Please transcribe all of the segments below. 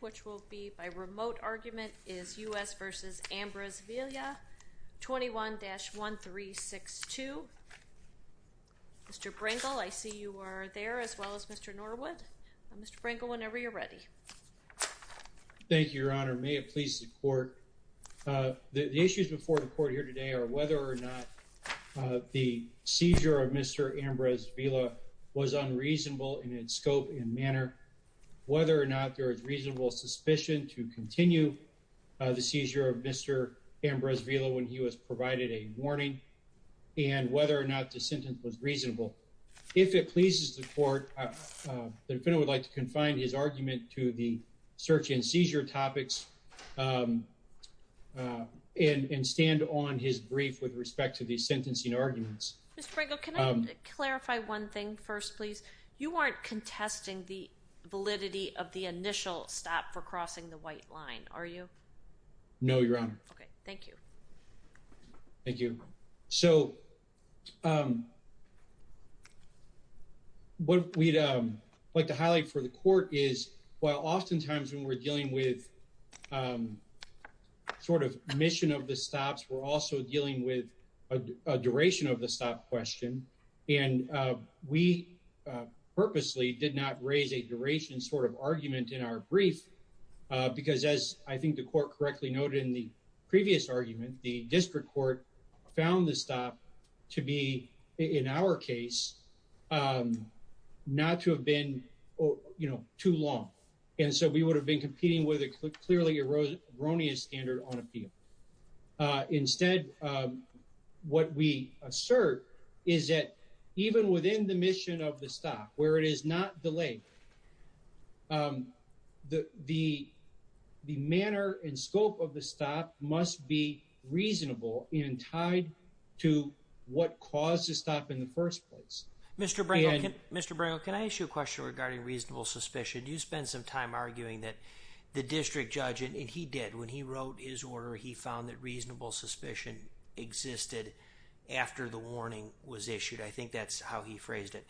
which will be by remote argument is U.S. v. Ambriz-Villa, 21-1362. Mr. Brangle, I see you are there, as well as Mr. Norwood. Mr. Brangle, whenever you're ready. Thank you, Your Honor. May it please the Court, the issues before the Court here today are whether or not the seizure of Mr. Ambriz-Villa was unreasonable in its scope and manner, whether or not there is reasonable suspicion to continue the seizure of Mr. Ambriz-Villa when he was provided a warning, and whether or not the sentence was reasonable. If it pleases the Court, the defendant would like to confine his argument to the search and seizure topics and stand on his brief with respect to the sentencing arguments. Mr. Brangle, can I clarify one thing first, please? You aren't contesting the validity of the initial stop for crossing the white line, are you? No, Your Honor. Okay, thank you. Thank you. So what we'd like to highlight for the Court is while oftentimes when we're dealing with sort of mission of the stops, we're also dealing with a duration of the stop question, and we purposely did not raise a duration sort of argument in our brief because as I think the Court correctly noted in the previous argument, the District Court found the stop to be, in our case, not to have been, you know, too long. And so we would have been competing with a clearly erroneous standard on appeal. Instead, what we assert is that even within the mission of the stop, where it is not delayed, the manner and scope of the stop must be reasonable and tied to what caused the stop in the first place. Mr. Brangle, can I ask you a question regarding reasonable suspicion? You spent some time arguing that the District Judge, and he did, when he wrote his order, he found that reasonable suspicion existed after the warning was issued. I think that's how he phrased it.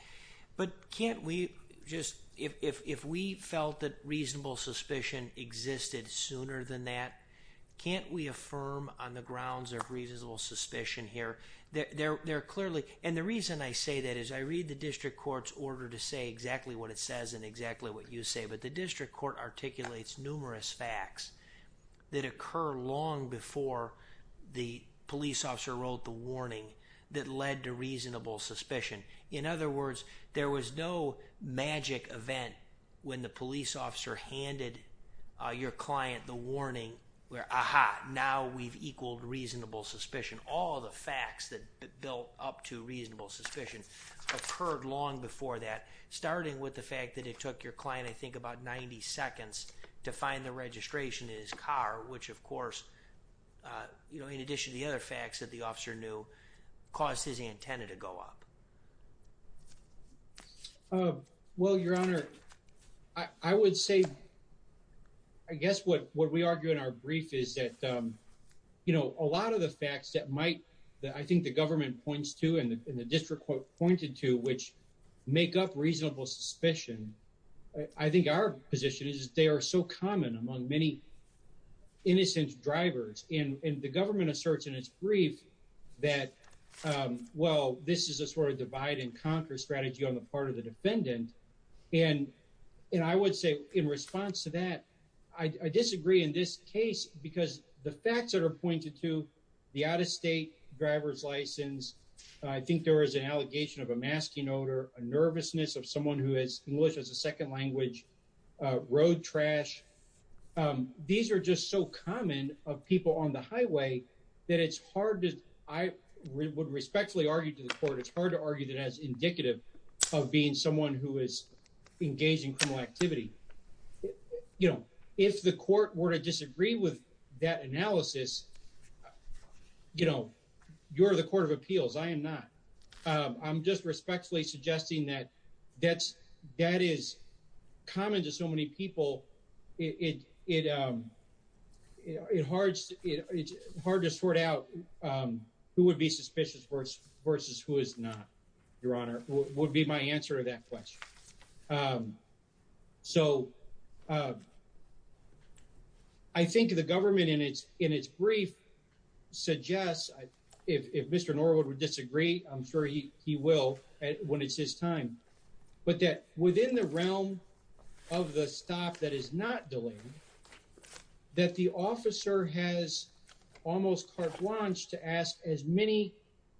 But can't we just, if we felt that reasonable suspicion existed sooner than that, can't we affirm on the grounds of reasonable suspicion here? There are clearly, and the reason I say that is I read the District Court's order to say exactly what it says and exactly what you say, but the District Court articulates numerous facts that occur long before the police officer wrote the warning that led to reasonable suspicion. In other words, there was no magic event when the police officer handed your client the warning where, aha, now we've equaled reasonable suspicion. All the facts that built up to reasonable suspicion occurred long before that, starting with the fact that it took your client I think about 90 seconds to find the registration in his car, which of course, in addition to the other facts that the officer knew, caused his antenna to go up. Well, Your Honor, I would say, I guess what we argue in our brief is that a lot of the facts that might, that I think the government points to and the District Court pointed to which make up reasonable suspicion, I think our position is that they are so common among many innocent drivers. And the government asserts in its brief that, well, this is a sort of divide and conquer strategy on the part of the defendant. And I would say in response to that, I disagree in this case because the facts that are pointed to, the out-of-state driver's license, I think there was an allegation of a masking odor, a nervousness of someone who has English as a second language, road trash. These are just so common of people on the highway that it's hard to, I would respectfully argue to the court, it's hard to argue that it has indicative of being someone who is engaged in criminal activity. If the court were to disagree with that analysis, you're the Court of Appeals, I am not. I'm just respectfully suggesting that that is common to so many people. It's hard to sort out who would be suspicious versus who is not, Your Honor, would be my answer to that question. So I think the government in its brief suggests, if Mr. Norwood would disagree, I'm sure he will when it's his time, but that within the realm of the stop that is not delayed, that the officer has almost carte blanche to ask as many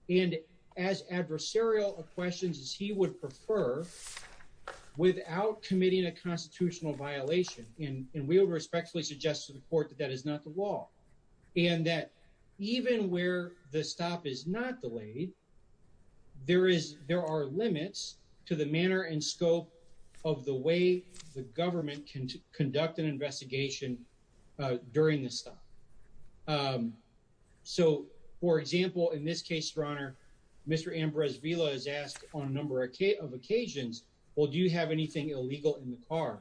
and as adversarial questions as he would prefer without committing a constitutional violation. And we would respectfully suggest to the court that that is not the law. And that even where the stop is not delayed, there are limits to the manner and scope of the way the government can conduct an investigation during the stop. So, for example, in this case, Your Honor, Mr. Ambrose Vila is asked on a number of occasions, well, do you have anything illegal in the car?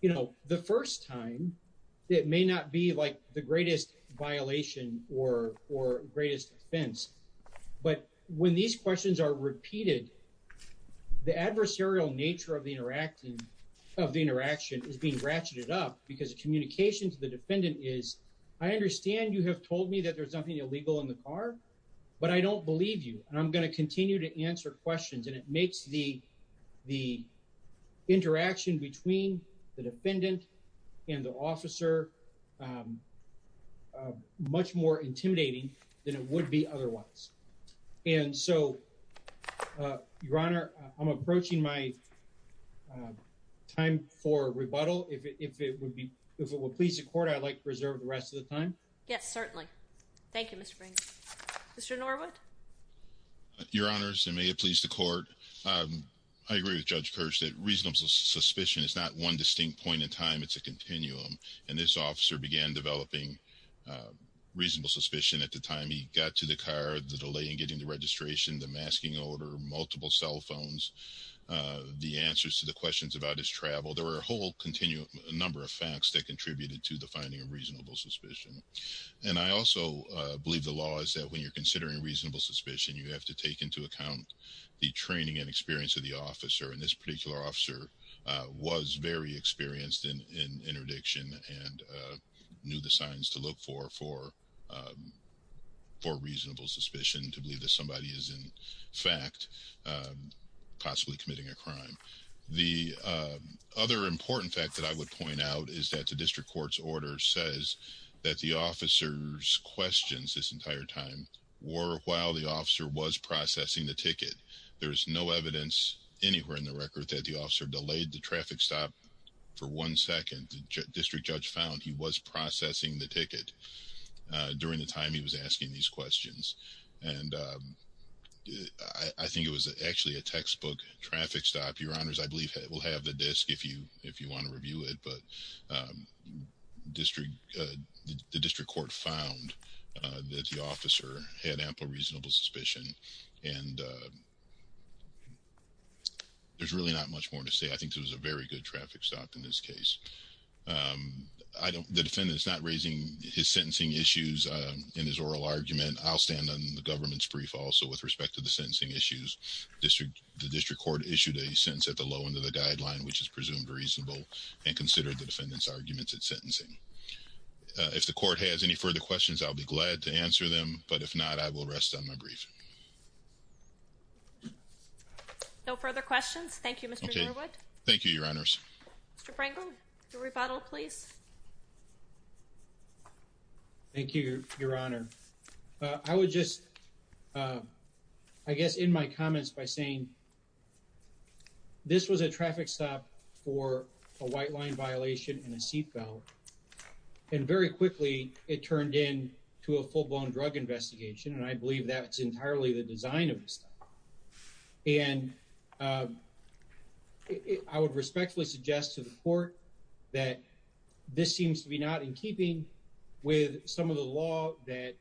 You know, the first time, it may not be like the greatest violation or greatest offense, but when these questions are repeated, the adversarial nature of the interaction is being ratcheted up because the communication to the defendant is, I understand you have told me that there's nothing illegal in the car, but I don't believe you. And I'm going to continue to answer questions. And it makes the interaction between the defendant and the officer much more intimidating than it would be otherwise. And so, Your Honor, I'm approaching my time for rebuttal. If it would please the court, I'd like to reserve the rest of the time. Yes, certainly. Thank you, Mr. Brink. Mr. Norwood. Your Honors, and may it please the court. I agree with Judge Kirsch that reasonable suspicion is not one distinct point in time, it's a continuum. And this officer began developing reasonable suspicion at the time he got to the car, the delay in getting the registration, the masking order, multiple cell phones, the answers to the questions about his travel. There were a whole continuum, a number of facts that contributed to the finding of reasonable suspicion. And I also believe the law is that when you're considering reasonable suspicion, you have to take into account the training and experience of the officer. And this particular officer was very experienced in interdiction and knew the signs to look for, for reasonable suspicion, to believe that somebody is in fact possibly committing a crime. The other important fact that I would point out is that the district court's order says that the officer's questions this entire time were while the officer was processing the ticket. There is no evidence anywhere in the record that the officer delayed the traffic stop for one second. The district judge found he was processing the ticket during the time he was asking these questions. And I think it was actually a textbook traffic stop. Your honors, I believe we'll have the disk if you want to review it. But the district court found that the officer had ample reasonable suspicion. And there's really not much more to say. I think it was a very good traffic stop in this case. The defendant is not raising his sentencing issues in his oral argument. I'll stand on the government's brief also with respect to the sentencing issues. The district court issued a sentence at the low end of the guideline, which is presumed reasonable and considered the defendant's arguments and sentencing. If the court has any further questions, I'll be glad to answer them. But if not, I will rest on my brief. No further questions. Thank you, Mr. Norwood. Thank you, your honors. Mr. Pringle, your rebuttal, please. Thank you, your honor. I would just, I guess, in my comments by saying, this was a traffic stop for a white line violation and a seat belt. And very quickly, it turned into a full-blown drug investigation. And I believe that's entirely the design of the stop. And I would respectfully suggest to the court that this seems to be not in line with the design of the stop. It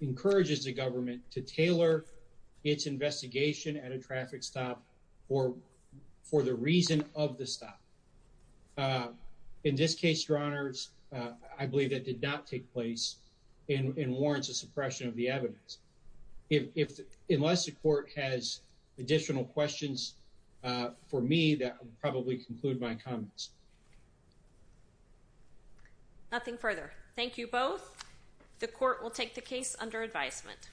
encourages the government to tailor its investigation at a traffic stop for the reason of the stop. In this case, your honors, I believe that did not take place and warrants a suppression of the evidence. Unless the court has additional questions for me, that would probably conclude my comments. Nothing further. Thank you both. The court will take the case under advisement.